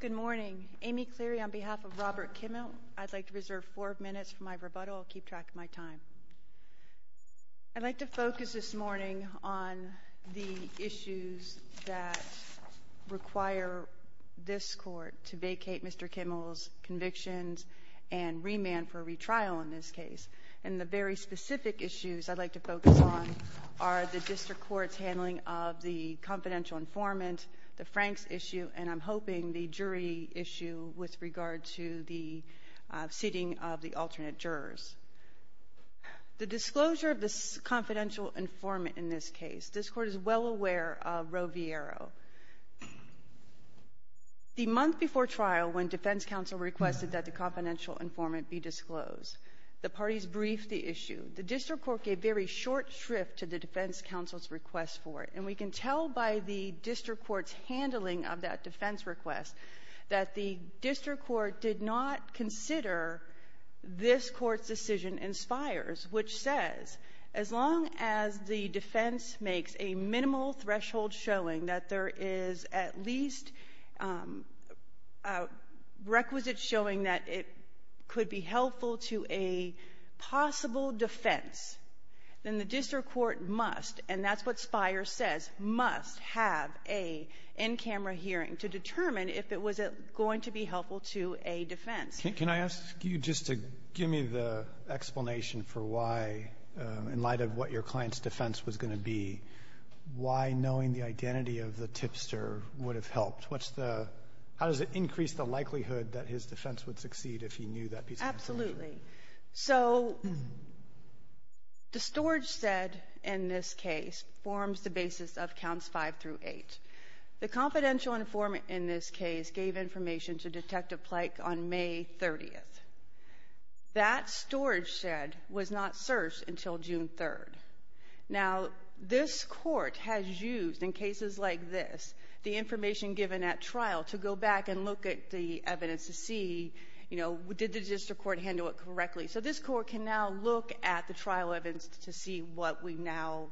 Good morning. Amy Cleary on behalf of Robert Kimmell. I'd like to reserve four minutes for my rebuttal. I'll keep track of my time. I'd like to focus this morning on the issues that require this court to vacate Mr. Kimmell's convictions and remand for retrial in this case. And the very specific issues I'd like to focus on are the district court's handling of the confidential informant, the Franks issue, and I'm hoping the jury issue with regard to the seating of the alternate jurors. The disclosure of the confidential informant in this case, this court is well aware of Roviero. The month before trial, when defense counsel requested that the confidential informant be disclosed, the parties briefed the issue. The district court gave very short shrift to the defense counsel's request for it. And we can tell by the district court's handling of that defense request that the district court did not consider this court's decision in Spires, which says as long as the defense makes a minimal threshold showing that there is at least a requisite showing that it could be helpful to a possible defense, then the district court must, and that's what Spires says, must have a in-camera hearing to determine if it was going to be helpful to a defense. Can I ask you just to give me the explanation for why, in light of what your client's defense was going to be, why knowing the identity of the tipster would have helped? What's the — how does it increase the likelihood that his defense would succeed if he knew that piece of information? Absolutely. So the storage said in this case forms the basis of counts 5 through 8. The confidential informant in this case gave information to Detective Plank on May 30th. That storage said was not searched until June 3rd. Now, this court has used, in cases like this, the information given at trial to go back and look at the evidence to see, you know, did the district court handle it correctly? So this court can now look at the trial evidence to see what we now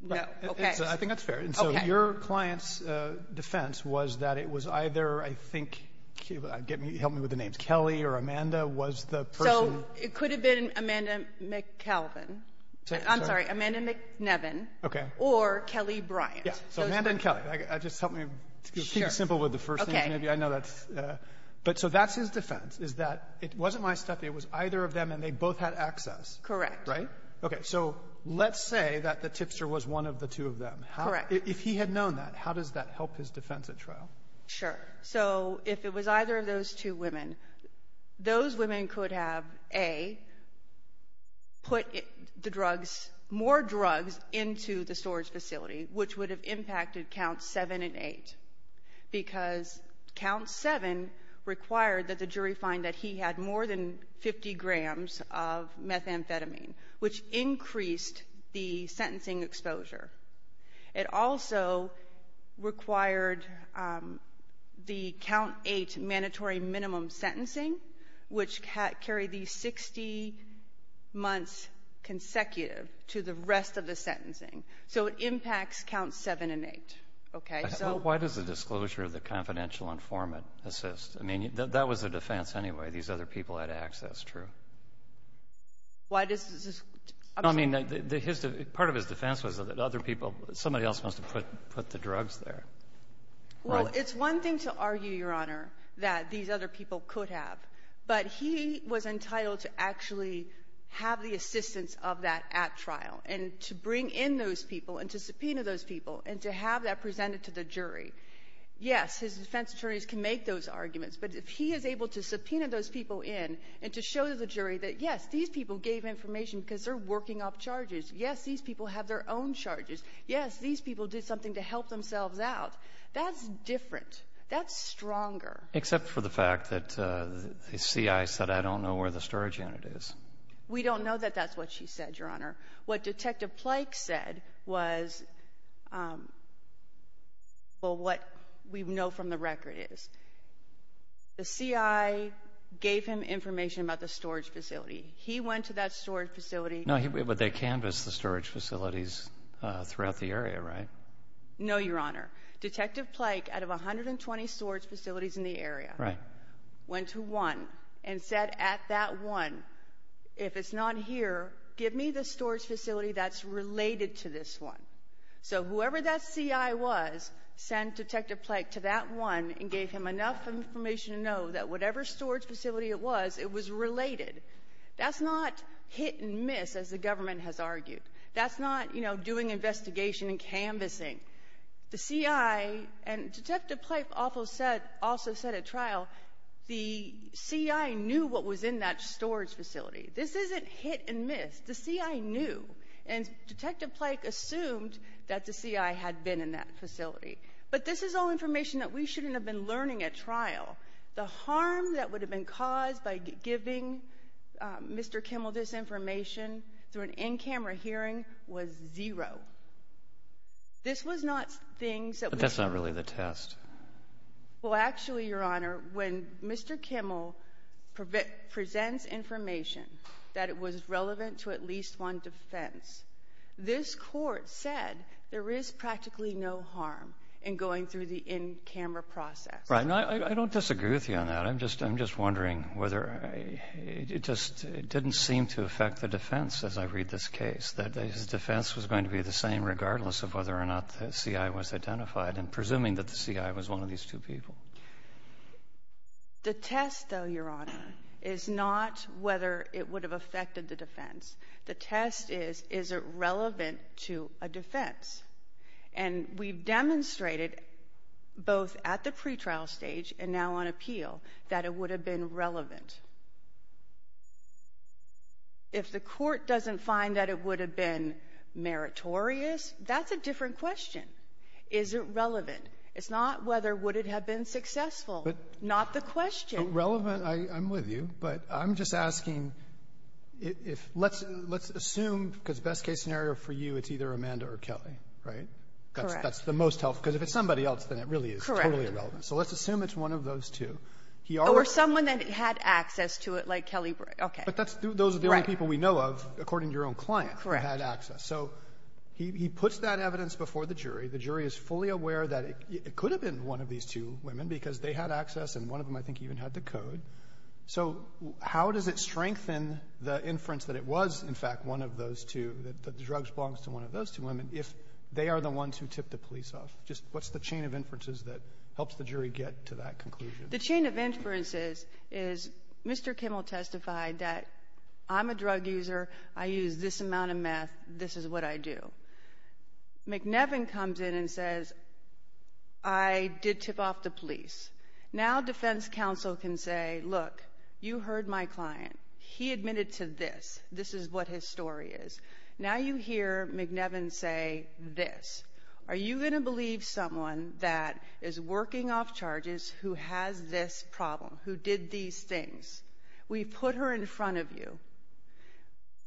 know. Right. Okay. I think that's fair. Okay. And so your client's defense was that it was either, I think — help me with the names — Kelly or Amanda was the person — So it could have been Amanda McCalvin. I'm sorry. Amanda McNevin. Okay. Or Kelly Bryant. Yeah. So Amanda and Kelly. Just help me keep it simple with the first names, maybe. Okay. I know that's — but so that's his defense, is that it wasn't my step. It was either of them, and they both had access. Correct. Right? Okay. So let's say that the tipster was one of the two of them. Correct. If he had known that, how does that help his defense at trial? Sure. So if it was either of those two women, those women could have, A, put the drugs, more drugs into the storage facility, which would have impacted counts 7 and 8, because count 7 required that the jury find that he had more than 50 grams of methamphetamine, which increased the sentencing exposure. It also required the count 8 mandatory minimum sentencing, which carried these 60 months consecutive to the rest of the sentencing. So it impacts counts 7 and 8. Okay. Why does the disclosure of the confidential informant assist? I mean, that was the defense anyway. These other people had access. True. Why does — I mean, part of his defense was that other people, somebody else must have put the drugs there. Well, it's one thing to argue, Your Honor, that these other people could have, but he was entitled to actually have the assistance of that at trial and to bring in those people and to subpoena those people and to have that presented to the jury. Yes, his defense attorneys can make those arguments, but if he is able to subpoena those people in and to show to the jury that, yes, these people gave information because they're working up charges. Yes, these people have their own charges. Yes, these people did something to help themselves out. That's different. That's stronger. Except for the fact that the CI said, I don't know where the storage unit is. We don't know that that's what she said, Your Honor. What Detective Plake said was, well, what we know from the record is, the CI gave him information about the storage facility. He went to that storage facility. No, but they canvassed the storage facilities throughout the area, right? No, Your Honor. Detective Plake, out of 120 storage facilities in the area, went to one and said, at that one, if it's not here, give me the storage facility that's related to this one. So whoever that CI was sent Detective Plake to that one and gave him enough information to know that whatever storage facility it was, it was related. That's not hit and miss, as the government has argued. That's not, you know, doing investigation and canvassing. The CI, and Detective Plake also said at trial, the CI knew what was in that storage facility. This isn't hit and miss. The CI knew, and Detective Plake assumed that the CI had been in that facility. But this is all information that we shouldn't have been learning at trial. The harm that would have been caused by giving Mr. Kimmel this information through an in-camera hearing was zero. This was not things that we should have known. But that's not really the test. Well, actually, Your Honor, when Mr. Kimmel presents information that it was relevant to at least one defense, this Court said there is practically no harm in going through the in-camera process. Right. And I don't disagree with you on that. I'm just wondering whether it just didn't seem to affect the defense as I read this case, that his defense was going to be the same regardless of whether or not the CI was identified and presuming that the CI was one of these two people. The test, though, Your Honor, is not whether it would have affected the defense. The test is, is it relevant to a defense? And we've demonstrated both at the pretrial stage and now on appeal that it would have been relevant. If the Court doesn't find that it would have been meritorious, that's a different question. Is it relevant? It's not whether would it have been successful, not the question. But relevant, I'm with you. But I'm just asking if let's assume, because best-case scenario for you, it's either Amanda or Kelly, right? Correct. That's the most helpful. Because if it's somebody else, then it really is totally irrelevant. Correct. So let's assume it's one of those two. Or someone that had access to it, like Kelly. Okay. But those are the only people we know of, according to your own client, who had access. Correct. So he puts that evidence before the jury. The jury is fully aware that it could have been one of these two women because they had access, and one of them, I think, even had to code. So how does it strengthen the inference that it was, in fact, one of those two, that the drug belongs to one of those two women, if they are the ones who tipped the police off? Just what's the chain of inferences that helps the jury get to that conclusion? The chain of inferences is Mr. Kimmel testified that I'm a drug user, I use this amount of meth, this is what I do. McNevin comes in and says, I did tip off the police. Now defense counsel can say, look, you heard my client. He admitted to this. This is what his story is. Now you hear McNevin say this. Are you going to believe someone that is working off charges who has this problem, who did these things? We put her in front of you.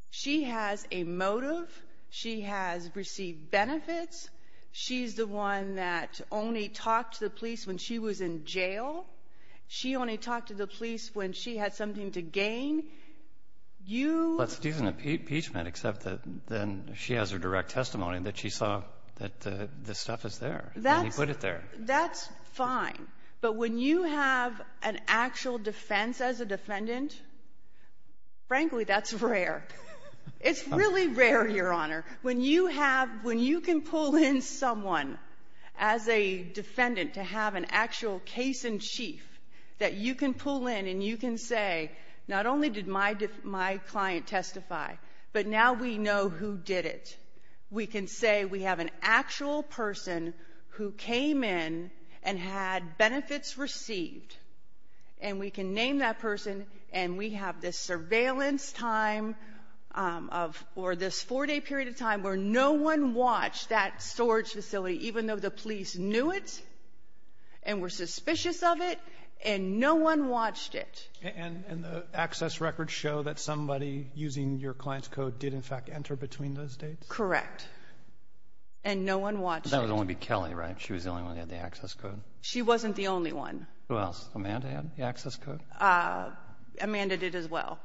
She has a motive. She has received benefits. She's the one that only talked to the police when she was in jail. She only talked to the police when she had something to gain. You — But she's an impeachment, except that then she has her direct testimony that she saw that the stuff is there. And he put it there. That's fine. But when you have an actual defense as a defendant, frankly, that's rare. It's really rare, Your Honor. When you have — when you can pull in someone as a defendant to have an actual case-in-chief that you can pull in and you can say, not only did my client testify, but now we know who did it. We can say we have an actual person who came in and had benefits received. And we can name that person. And we have this surveillance time of — or this four-day period of time where no one watched that storage facility, even though the police knew it and were suspicious of it, and no one watched it. And the access records show that somebody using your client's code did, in fact, enter between those dates? Correct. And no one watched it. That would only be Kelly, right? She was the only one who had the access code? She wasn't the only one. Who else? Amanda had the access code? Amanda did as well.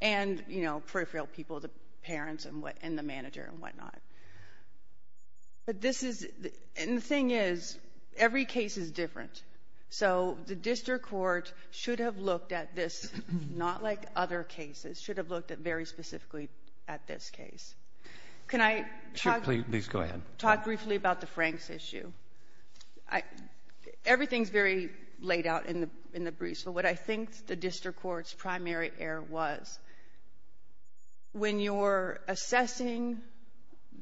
And, you know, peripheral people, the parents and the manager and whatnot. But this is — and the thing is, every case is different. So the district court should have looked at this, not like other cases, should have looked at very specifically at this case. Can I talk — Please go ahead. Talk briefly about the Franks issue. Everything is very laid out in the briefs. But what I think the district court's primary error was, when you're assessing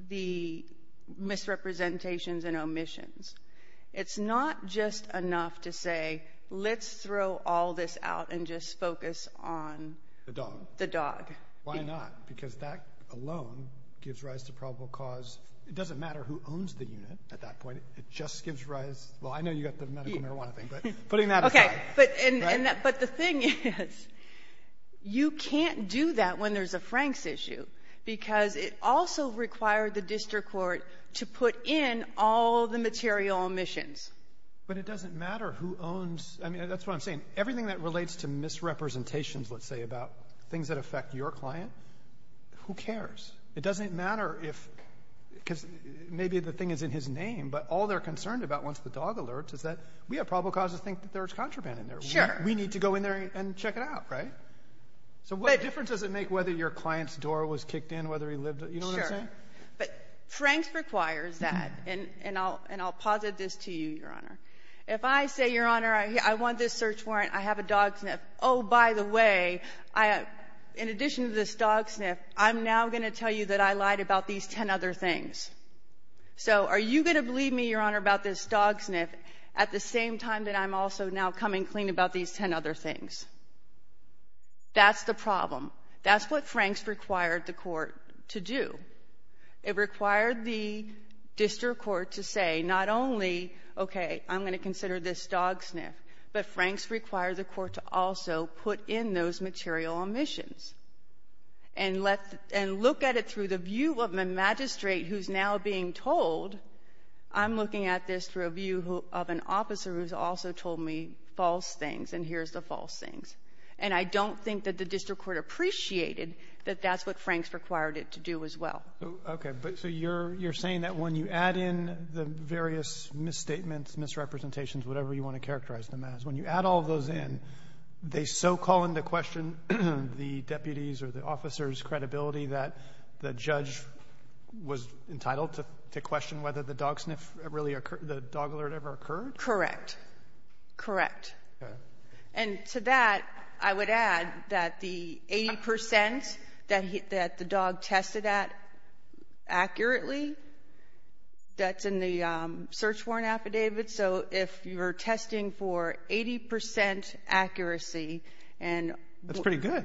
the misrepresentations and omissions, it's not just enough to say, let's throw all this out and just focus on — Why not? Because that alone gives rise to probable cause. It doesn't matter who owns the unit at that point. It just gives rise — well, I know you got the medical marijuana thing, but putting that aside. Okay. But the thing is, you can't do that when there's a Franks issue, because it also required the district court to put in all the material omissions. But it doesn't matter who owns — I mean, that's what I'm saying. Everything that relates to misrepresentations, let's say, about things that affect your client, who cares? It doesn't matter if — because maybe the thing is in his name, but all they're concerned about once the dog alerts is that we have probable cause to think that there's contraband in there. Sure. We need to go in there and check it out, right? So what difference does it make whether your client's door was kicked in, whether he lived — you know what I'm saying? Sure. But Franks requires that, and I'll posit this to you, Your Honor. If I say, Your Honor, I want this search warrant, I have a dog sniff, oh, by the way, I have — in addition to this dog sniff, I'm now going to tell you that I lied about these ten other things. So are you going to believe me, Your Honor, about this dog sniff at the same time that I'm also now coming clean about these ten other things? That's the problem. That's what Franks required the court to do. It required the district court to say not only, okay, I'm going to consider this dog sniff, but Franks required the court to also put in those material omissions and let — and look at it through the view of a magistrate who's now being told, I'm looking at this through a view of an officer who's also told me false things, and here's the false things. And I don't think that the district court appreciated that that's what Franks required it to do as well. Okay. But so you're saying that when you add in the various misstatements, misrepresentations, whatever you want to characterize them as, when you add all of those in, they so call into question the deputy's or the officer's credibility that the judge was entitled to question whether the dog sniff really occurred, the dog alert ever occurred? Correct. Correct. And to that, I would add that the 80 percent that the dog tested at accurately, that's in the search warrant affidavit, so if you're testing for 80 percent accuracy and — That's pretty good.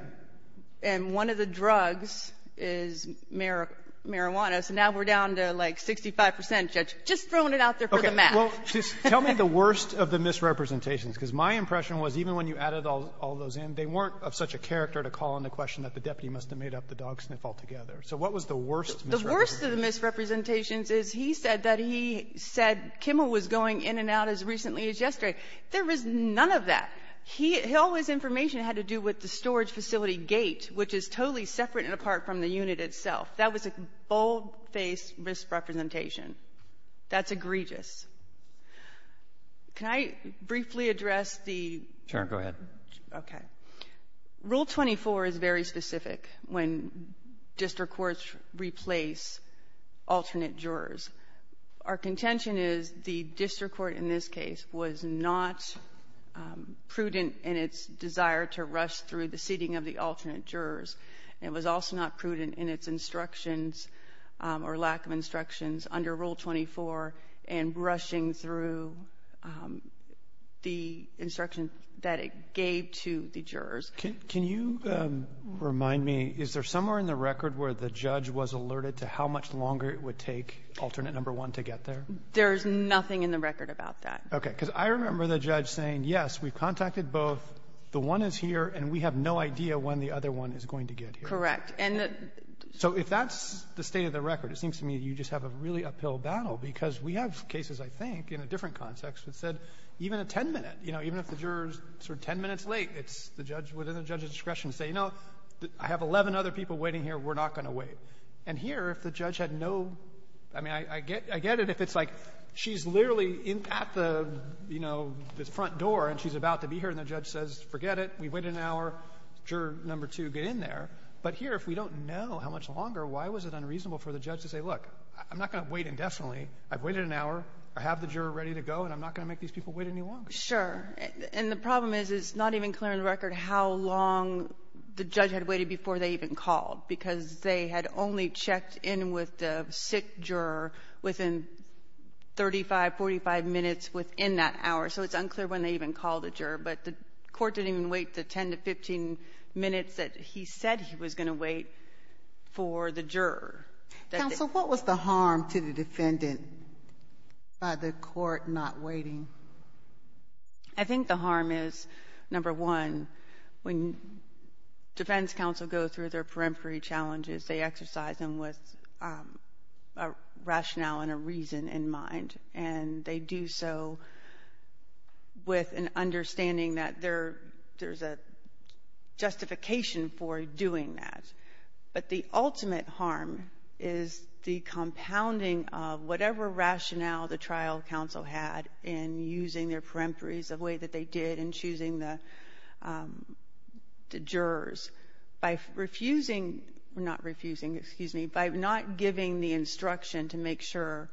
And one of the drugs is marijuana, so now we're down to like 65 percent, Judge. Just throwing it out there for the math. Well, just tell me the worst of the misrepresentations, because my impression was even when you added all those in, they weren't of such a character to call into question that the deputy must have made up the dog sniff altogether. So what was the worst misrepresentation? The worst of the misrepresentations is he said that he said Kimmel was going in and out as recently as yesterday. There was none of that. He — all his information had to do with the storage facility gate, which is totally separate and apart from the unit itself. That was a bold-faced misrepresentation. That's egregious. Can I briefly address the — Go ahead. Okay. Rule 24 is very specific when district courts replace alternate jurors. Our contention is the district court in this case was not prudent in its desire to rush through the seating of the alternate jurors. It was also not prudent in its instructions or lack of instructions under Rule 24 and rushing through the instruction that it gave to the jurors. Can you remind me, is there somewhere in the record where the judge was alerted to how much longer it would take alternate number one to get there? There is nothing in the record about that. Okay. Because I remember the judge saying, yes, we've contacted both. The one is here, and we have no idea when the other one is going to get here. Correct. And the — So if that's the state of the record, it seems to me you just have a really uphill battle, because we have cases, I think, in a different context that said even a 10-minute — you know, even if the juror is sort of 10 minutes late, it's the judge within the judge's discretion to say, you know, I have 11 other people waiting here. We're not going to wait. And here, if the judge had no — I mean, I get it if it's like she's literally at the, you know, the front door, and she's about to be here, and the judge says, forget it, we've waited an hour, juror number two, get in there. But here, if we don't know how much longer, why was it unreasonable for the judge to say, look, I'm not going to wait indefinitely. I've waited an hour. I have the juror ready to go, and I'm not going to make these people wait any longer. Sure. And the problem is, it's not even clear in the record how long the judge had waited before they even called, because they had only checked in with the sick juror within 35, 45 minutes within that hour. So it's unclear when they even called the juror. But the court didn't even wait the 10 to 15 minutes that he said he was going to wait for the juror. Counsel, what was the harm to the defendant by the court not waiting? I think the harm is, number one, when defense counsel go through their rationale and a reason in mind, and they do so with an understanding that there's a justification for doing that. But the ultimate harm is the compounding of whatever rationale the trial counsel had in using their peremptories the way that they did in choosing the jurors by refusing, not refusing, excuse me, by not giving the instruction to make sure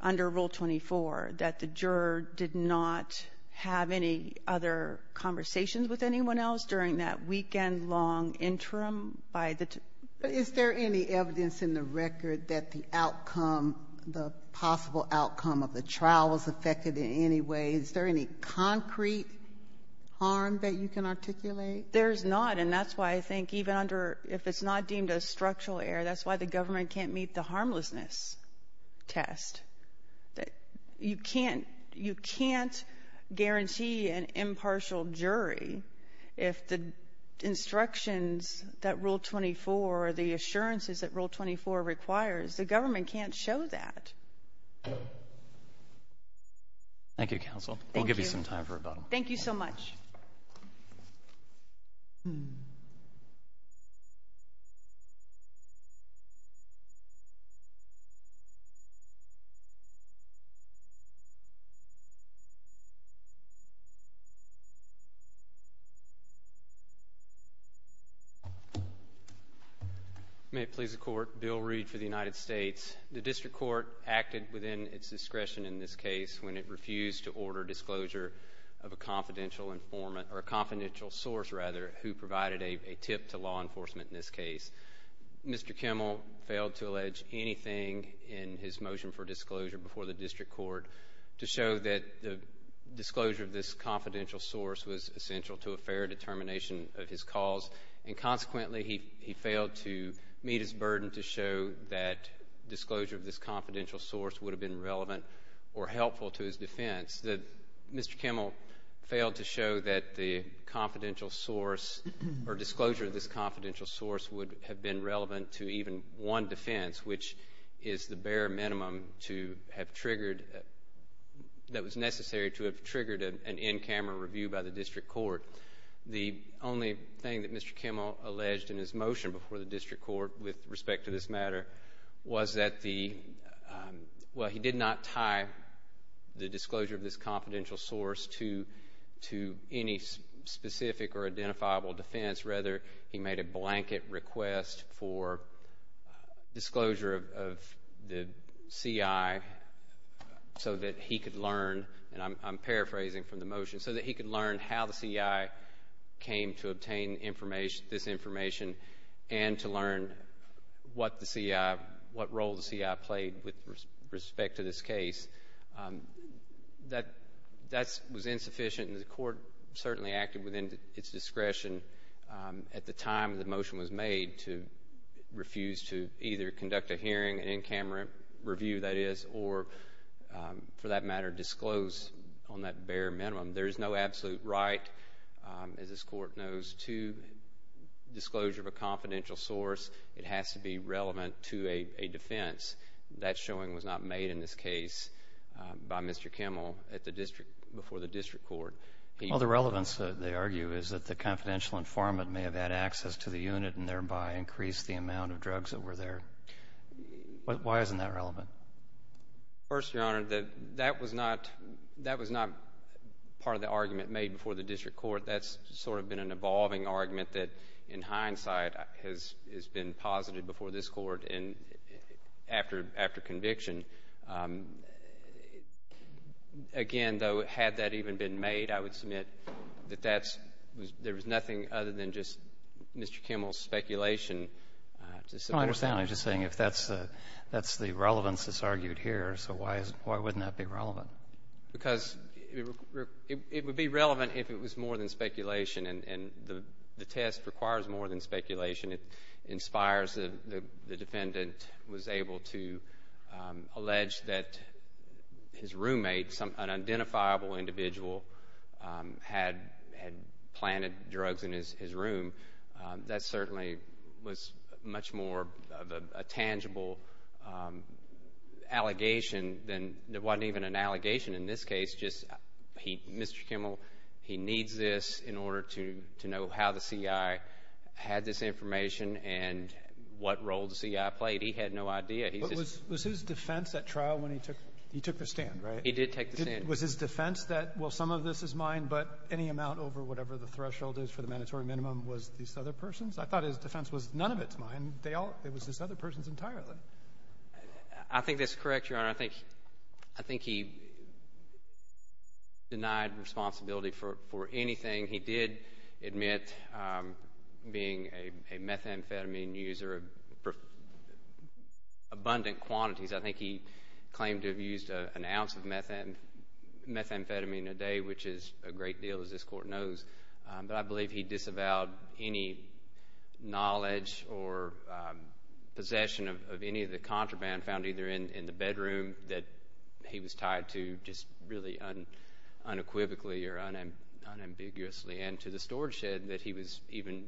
under Rule 24 that the juror did not have any other conversations with anyone else during that weekend-long interim by the two or three. But is there any evidence in the record that the outcome, the possible outcome of the trial was affected in any way? Is there any concrete harm that you can articulate? There's not. And that's why I think even under, if it's not deemed a structural error, that's why the government can't meet the harmlessness test. You can't guarantee an impartial jury if the instructions that Rule 24 or the assurances that Rule 24 requires, the government can't show that. Thank you, Counsel. Thank you. I'll give you some time for rebuttal. Thank you so much. May it please the Court, Bill Reed for the United States. The District Court acted within its discretion in this case when it refused to order disclosure of a confidential source who provided a tip to law enforcement in this case. Mr. Kimmel failed to allege anything in his motion for disclosure before the District Court to show that the disclosure of this confidential source was essential to a fair determination of his cause, and consequently he failed to meet his burden to show that disclosure of this confidential source would have been relevant or helpful to his defense. Mr. Kimmel failed to show that the confidential source or disclosure of this confidential source would have been relevant to even one defense, which is the bare minimum that was necessary to have triggered an in-camera review by the District Court. The only thing that Mr. Kimmel alleged in his motion before the District Court with disclosure of this confidential source to any specific or identifiable defense. Rather, he made a blanket request for disclosure of the CI so that he could learn, and I'm paraphrasing from the motion, so that he could learn how the CI came to obtain this information and to learn what role the CI played with respect to this case. That was insufficient, and the Court certainly acted within its discretion at the time the motion was made to refuse to either conduct a hearing, an in-camera review, that is, or, for that matter, disclose on that bare minimum. There is no absolute right, as this Court knows, to disclosure of a confidential source. It has to be relevant to a defense. That showing was not made in this case by Mr. Kimmel before the District Court. Well, the relevance, they argue, is that the confidential informant may have had access to the unit and thereby increased the amount of drugs that were there. Why isn't that relevant? First, Your Honor, that was not part of the argument made before the District Court. That's sort of been an evolving argument that, in hindsight, has been posited before this Court and after conviction. Again, though, had that even been made, I would submit that there was nothing other than just Mr. Kimmel's speculation. I don't understand. I'm just saying if that's the relevance that's argued here, so why wouldn't that be relevant? Because it would be relevant if it was more than speculation, and the test requires more than speculation. It inspires the defendant was able to allege that his roommate, an identifiable individual, had planted drugs in his room. That certainly was much more of a tangible allegation than it wasn't even an allegation in this case, just Mr. Kimmel, he needs this in order to know how the C.I. had this information and what role the C.I. played. He had no idea. Was his defense at trial when he took the stand, right? He did take the stand. Was his defense that, well, some of this is mine, but any amount over whatever the threshold is for the mandatory minimum was this other person's? I thought his defense was none of it's mine. It was this other person's entirely. I think that's correct, Your Honor. I think he denied responsibility for anything. He did admit being a methamphetamine user of abundant quantities. I think he claimed to have used an ounce of methamphetamine a day, which is a great deal, as this court knows. But I believe he disavowed any knowledge or possession of any of the contraband found either in the bedroom that he was tied to just really unequivocally or unambiguously, and to the storage shed that he was even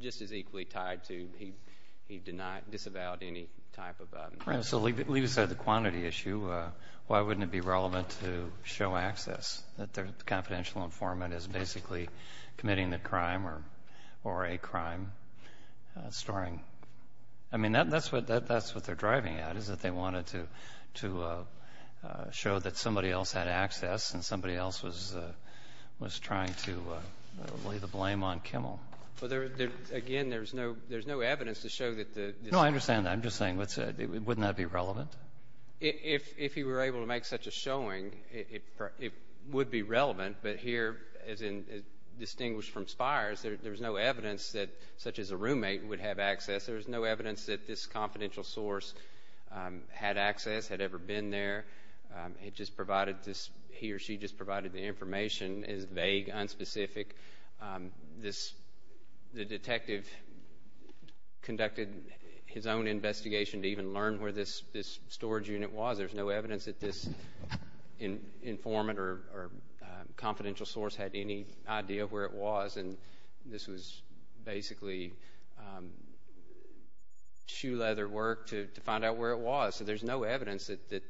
just as equally tied to. He did not disavow any type of abundance. Right. So leave aside the quantity issue. Why wouldn't it be relevant to show access that the confidential informant is basically committing the crime or a crime storing? I mean, that's what they're driving at is that they wanted to show that somebody else had access and somebody else was trying to lay the blame on Kimmel. Well, again, there's no evidence to show that the spy. No, I understand that. I'm just saying, wouldn't that be relevant? If he were able to make such a showing, it would be relevant. But here, as distinguished from Spires, there's no evidence that such as a roommate would have access. There's no evidence that this confidential source had access, had ever been there. It just provided this he or she just provided the information is vague, unspecific. The detective conducted his own investigation to even learn where this storage unit was. There's no evidence that this informant or confidential source had any idea of where it was. And this was basically shoe leather work to find out where it was. So there's no evidence that that.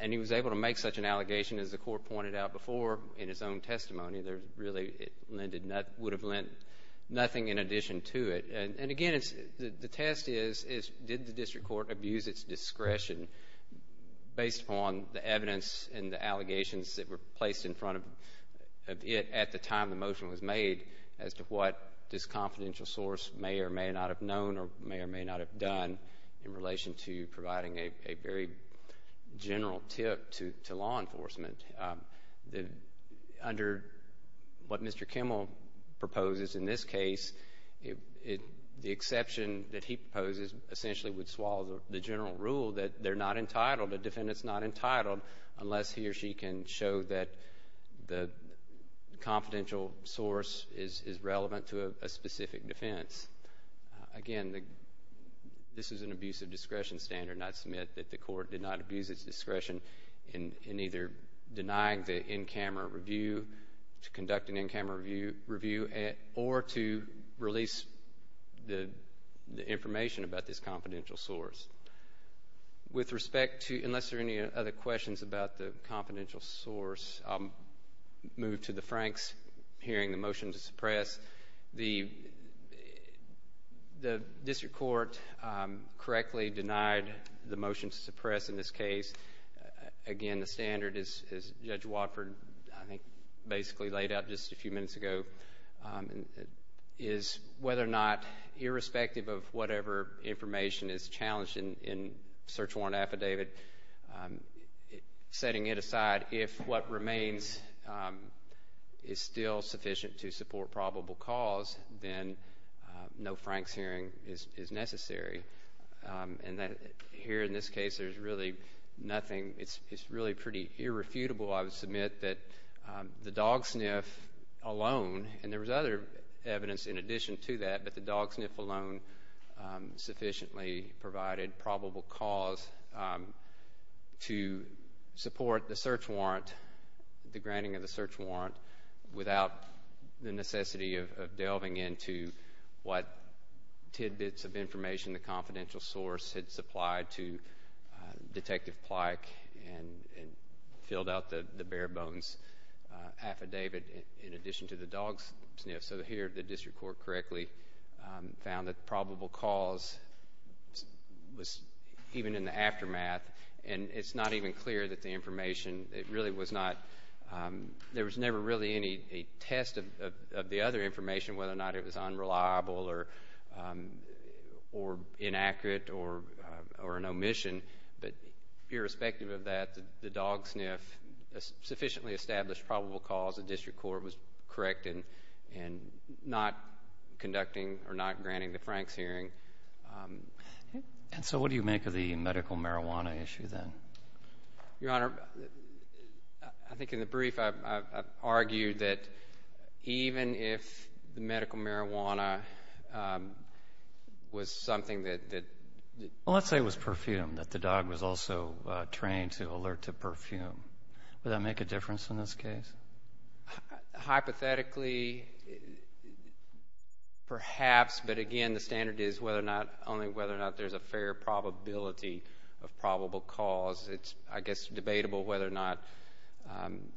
And he was able to make such an allegation as the court pointed out before in his own testimony. Really, it would have lent nothing in addition to it. And, again, the test is did the district court abuse its discretion based upon the evidence and the allegations that were placed in front of it at the time the motion was made as to what this confidential source may or may not have known or may or may not have done in relation to providing a very general tip to law enforcement. Under what Mr. Kimmel proposes in this case, the exception that he proposes essentially would swallow the general rule that they're not entitled, a defendant's not entitled unless he or she can show that the confidential source is relevant to a specific defense. Again, this is an abuse of discretion standard, not to submit that the court did not abuse its discretion in either denying the in-camera review, to conduct an in-camera review, or to release the information about this confidential source. With respect to unless there are any other questions about the confidential source, I'll move to the Franks hearing the motion to suppress. The district court correctly denied the motion to suppress in this case. Again, the standard, as Judge Watford, I think, basically laid out just a few minutes ago, is whether or not, irrespective of whatever information is challenged in search warrant affidavit, setting it aside, if what remains is still sufficient to support probable cause, then no Franks hearing is necessary. Here in this case, there's really nothing. It's really pretty irrefutable, I would submit, that the dog sniff alone, and there was other evidence in addition to that, but the dog sniff alone sufficiently provided probable cause to support the search warrant, the granting of the search warrant, without the necessity of delving into what tidbits of information the confidential source had supplied to Detective Plyk and filled out the bare bones affidavit in addition to the dog sniff. So, here the district court correctly found that probable cause was even in the aftermath, and it's not even clear that the information, it really was not, there was never really any test of the other information, whether or not it was unreliable or inaccurate or an omission, but irrespective of that, the dog sniff sufficiently established probable cause, the district court was correct in not conducting or not granting the Franks hearing. And so what do you make of the medical marijuana issue then? Your Honor, I think in the brief I've argued that even if the medical marijuana was something that… Well, let's say it was perfume, that the dog was also trained to alert to perfume. Would that make a difference in this case? Hypothetically, perhaps, but again, the standard is whether or not, only whether or not there's a fair probability of probable cause. It's, I guess, debatable whether or not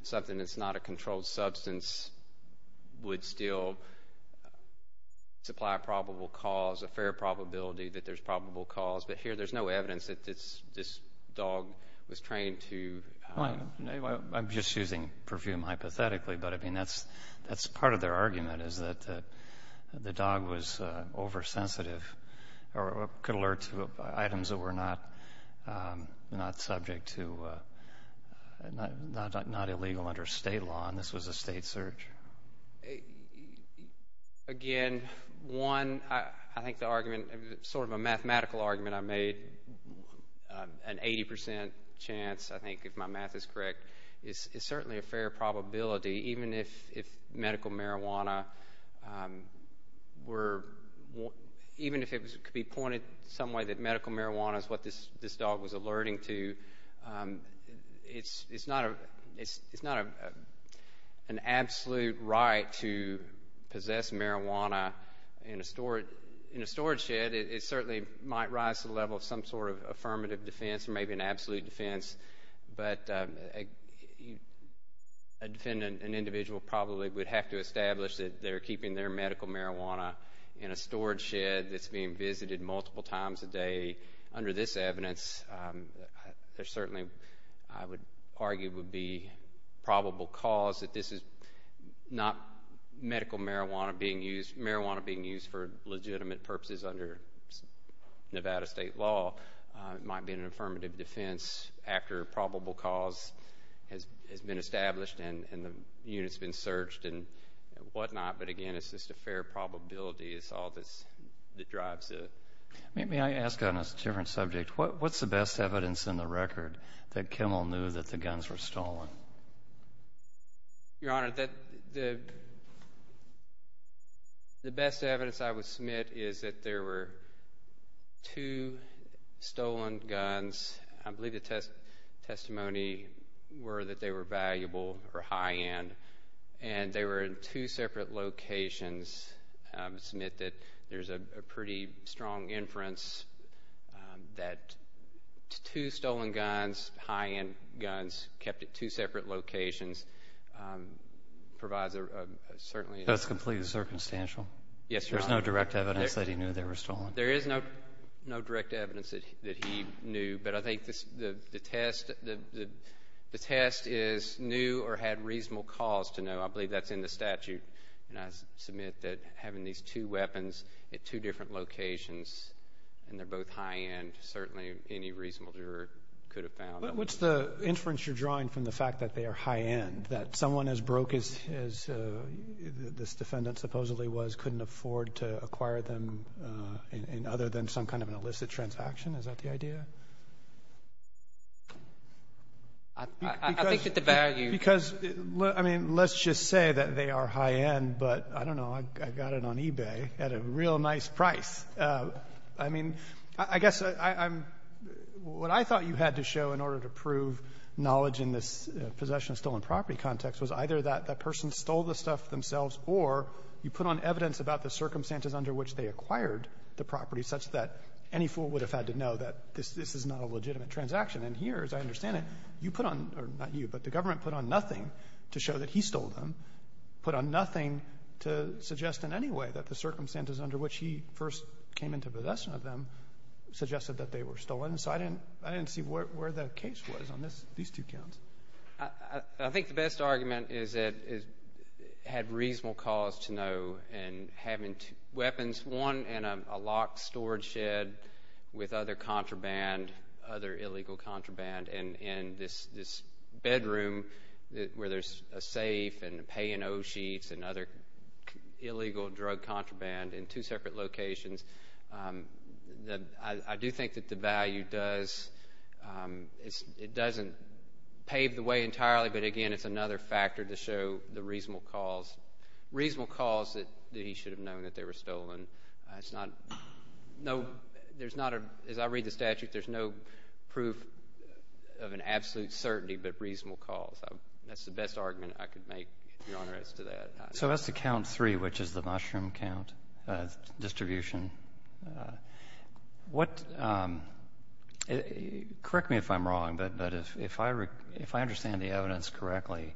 something that's not a controlled substance would still supply probable cause, a fair probability that there's probable cause, but here there's no evidence that this dog was trained to… I'm just using perfume hypothetically, but, I mean, that's part of their argument, is that the dog was oversensitive or could alert to items that were not subject to, not illegal under state law, and this was a state search. Again, one, I think the argument, sort of a mathematical argument I made, an 80% chance, I think, if my math is correct, is certainly a fair probability, even if medical marijuana were, even if it could be pointed some way that medical marijuana is what this dog was alerting to. It's not an absolute right to possess marijuana in a storage shed. It certainly might rise to the level of some sort of affirmative defense or maybe an absolute defense, but an individual probably would have to establish that they're keeping their medical marijuana in a storage shed that's being visited multiple times a day. Under this evidence, there certainly, I would argue, would be probable cause that this is not medical marijuana being used, marijuana being used for legitimate purposes under Nevada state law. It might be an affirmative defense after probable cause has been established and the unit's been searched and whatnot, but, again, it's just a fair probability. It's all that drives it. May I ask on a different subject, what's the best evidence in the record that Kimmel knew that the guns were stolen? Your Honor, the best evidence I would submit is that there were two stolen guns. I believe the testimony were that they were valuable or high-end, and they were in two separate locations. I would submit that there's a pretty strong inference that two stolen guns, high-end guns kept at two separate locations provides a certainly. That's completely circumstantial? Yes, Your Honor. There's no direct evidence that he knew they were stolen? There is no direct evidence that he knew, but I think the test is knew or had reasonable cause to know. I believe that's in the statute, and I submit that having these two weapons at two different locations and they're both high-end certainly any reasonable juror could have found. What's the inference you're drawing from the fact that they are high-end, that someone as broke as this defendant supposedly was couldn't afford to acquire them other than some kind of an illicit transaction? Is that the idea? I think that the value — Because, I mean, let's just say that they are high-end, but I don't know. I got it on eBay at a real nice price. I mean, I guess I'm — what I thought you had to show in order to prove knowledge in this possession of stolen property context was either that that person stole the stuff themselves or you put on evidence about the circumstances under which they acquired the property such that any fool would have had to know that this is not a legitimate transaction. And here, as I understand it, you put on — or not you, but the government put on nothing to show that he stole them, put on nothing to suggest in any way that the circumstances under which he first came into possession of them suggested that they were stolen. So I didn't see where the case was on these two counts. I think the best argument is that it had reasonable cause to know. And having two weapons, one in a locked storage shed with other contraband, other illegal contraband, and this bedroom where there's a safe and pay-and-owe sheets and other illegal drug contraband in two separate locations, I do think that the value does — it doesn't pave the way entirely, but, again, it's another factor to show the reasonable cause. Reasonable cause that he should have known that they were stolen. It's not — no, there's not a — as I read the statute, there's no proof of an absolute certainty but reasonable cause. That's the best argument I could make, Your Honor, as to that. So as to count three, which is the mushroom count distribution, what — correct me if I'm wrong, but if I understand the evidence correctly,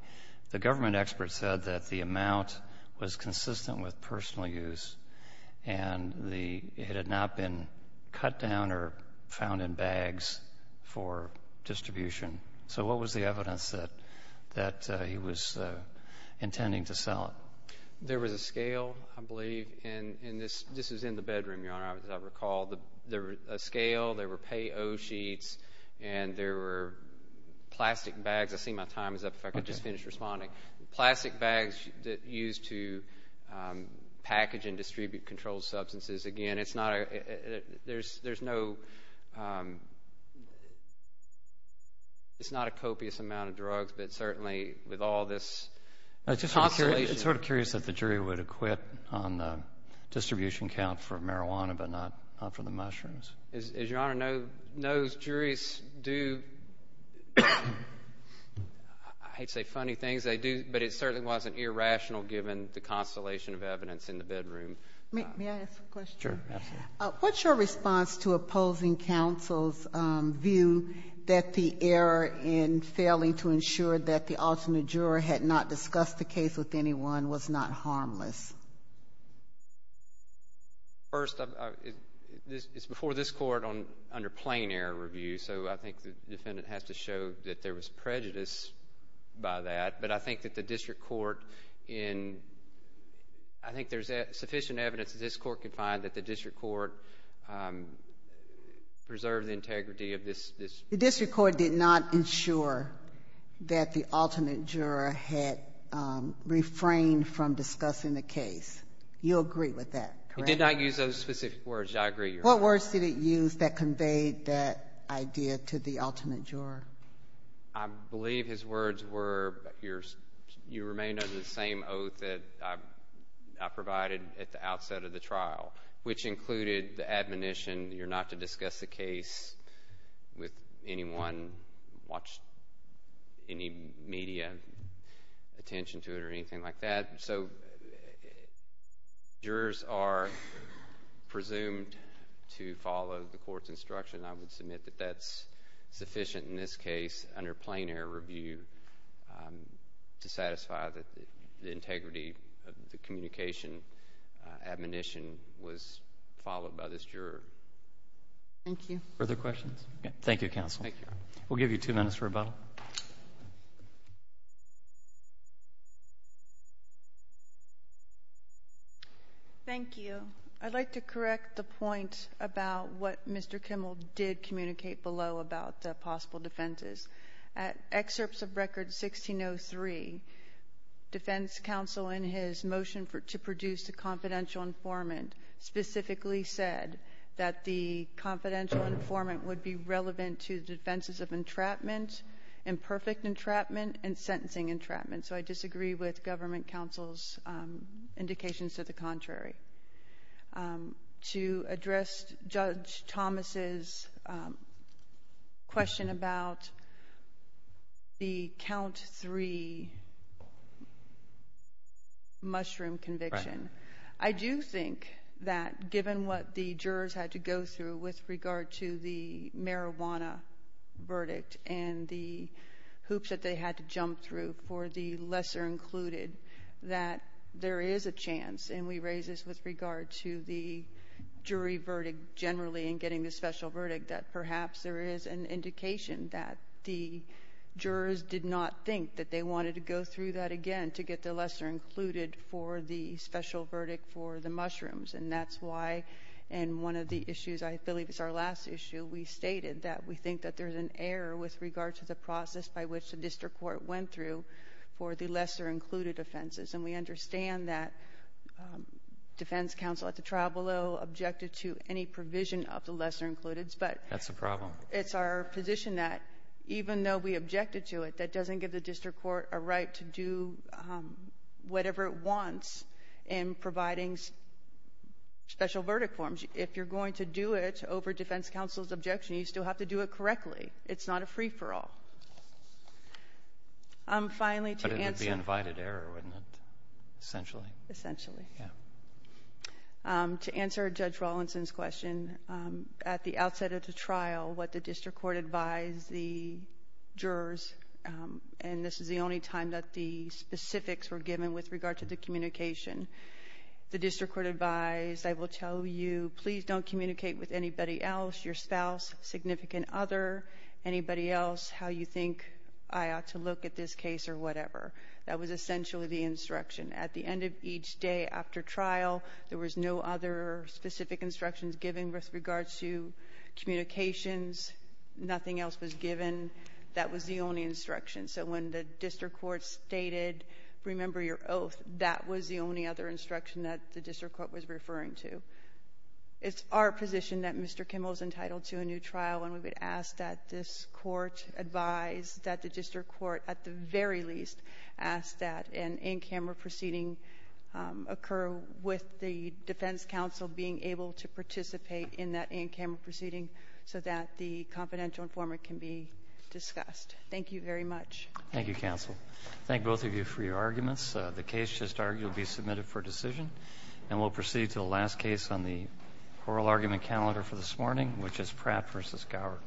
the government expert said that the amount was consistent with personal use and it had not been cut down or found in bags for distribution. So what was the evidence that he was intending to sell it? There was a scale, I believe, and this is in the bedroom, Your Honor, as I recall. There was a scale, there were pay-and-owe sheets, and there were plastic bags. I see my time is up. If I could just finish responding. Plastic bags used to package and distribute controlled substances. Again, it's not a — there's no — it's not a copious amount of drugs, but certainly with all this constellation. I'm just sort of curious if the jury would acquit on the distribution count for marijuana but not for the mushrooms. As Your Honor knows, juries do — I hate to say funny things, they do, but it certainly wasn't irrational given the constellation of evidence in the bedroom. May I ask a question? Sure, absolutely. What's your response to opposing counsel's view that the error in failing to ensure that the alternate juror had not discussed the case with anyone was not harmless? First, it's before this Court under plain error review, so I think the defendant has to show that there was prejudice by that, but I think that the district court in — I think there's sufficient evidence that this Court could find that the district court preserved the integrity of this. The district court did not ensure that the alternate juror had refrained from discussing the case. You agree with that, correct? It did not use those specific words. I agree, Your Honor. What words did it use that conveyed that idea to the alternate juror? I believe his words were you remained under the same oath that I provided at the outset of the trial, which included the admonition you're not to discuss the case with anyone, watch any media attention to it or anything like that. So jurors are presumed to follow the Court's instruction. I would submit that that's sufficient in this case under plain error review to satisfy that the integrity of the communication admonition was followed by this juror. Thank you. Further questions? Thank you, counsel. We'll give you two minutes for rebuttal. Thank you. I'd like to correct the point about what Mr. Kimmel did communicate below about possible defenses. At excerpts of Record 1603, defense counsel in his motion to produce the confidential informant specifically said that the confidential informant would be relevant to defenses of entrapment, imperfect entrapment, and sentencing entrapment. So I disagree with government counsel's indications to the contrary. To address Judge Thomas' question about the count three mushroom conviction, I do think that given what the jurors had to go through with regard to the marijuana verdict and the hoops that they had to jump through for the lesser included, that there is a chance, and we raise this with regard to the jury verdict generally in getting the special verdict, that perhaps there is an indication that the jurors did not think that they wanted to go through that again to get the lesser included for the special verdict for the mushrooms. And that's why in one of the issues, I believe it's our last issue, we stated that we think that there's an error with regard to the process by which the district court went through for the lesser included offenses. And we understand that defense counsel at the trial below objected to any provision of the lesser included. But it's our position that even though we objected to it, that doesn't give the district court a right to do whatever it wants in providing special verdict forms. And if you're going to do it over defense counsel's objection, you still have to do it correctly. It's not a free-for-all. Finally, to answer- But it would be an invited error, wouldn't it, essentially? Essentially. To answer Judge Rawlinson's question, at the outset of the trial, what the district court advised the jurors, and this is the only time that the specifics were given with regard to the communication, the district court advised, I will tell you, please don't communicate with anybody else, your spouse, significant other, anybody else, how you think I ought to look at this case or whatever. That was essentially the instruction. At the end of each day after trial, there was no other specific instructions given with regard to communications. Nothing else was given. That was the only instruction. So when the district court stated, remember your oath, that was the only other instruction that the district court was referring to. It's our position that Mr. Kimmel is entitled to a new trial, and we would ask that this court advise that the district court at the very least ask that an in-camera proceeding occur with the defense counsel being able to participate in that in-camera proceeding so that the confidential informant can be discussed. Thank you very much. Thank you, counsel. Thank both of you for your arguments. The case just argued will be submitted for decision, and we'll proceed to the last case on the oral argument calendar for this morning, which is Pratt v. Gower.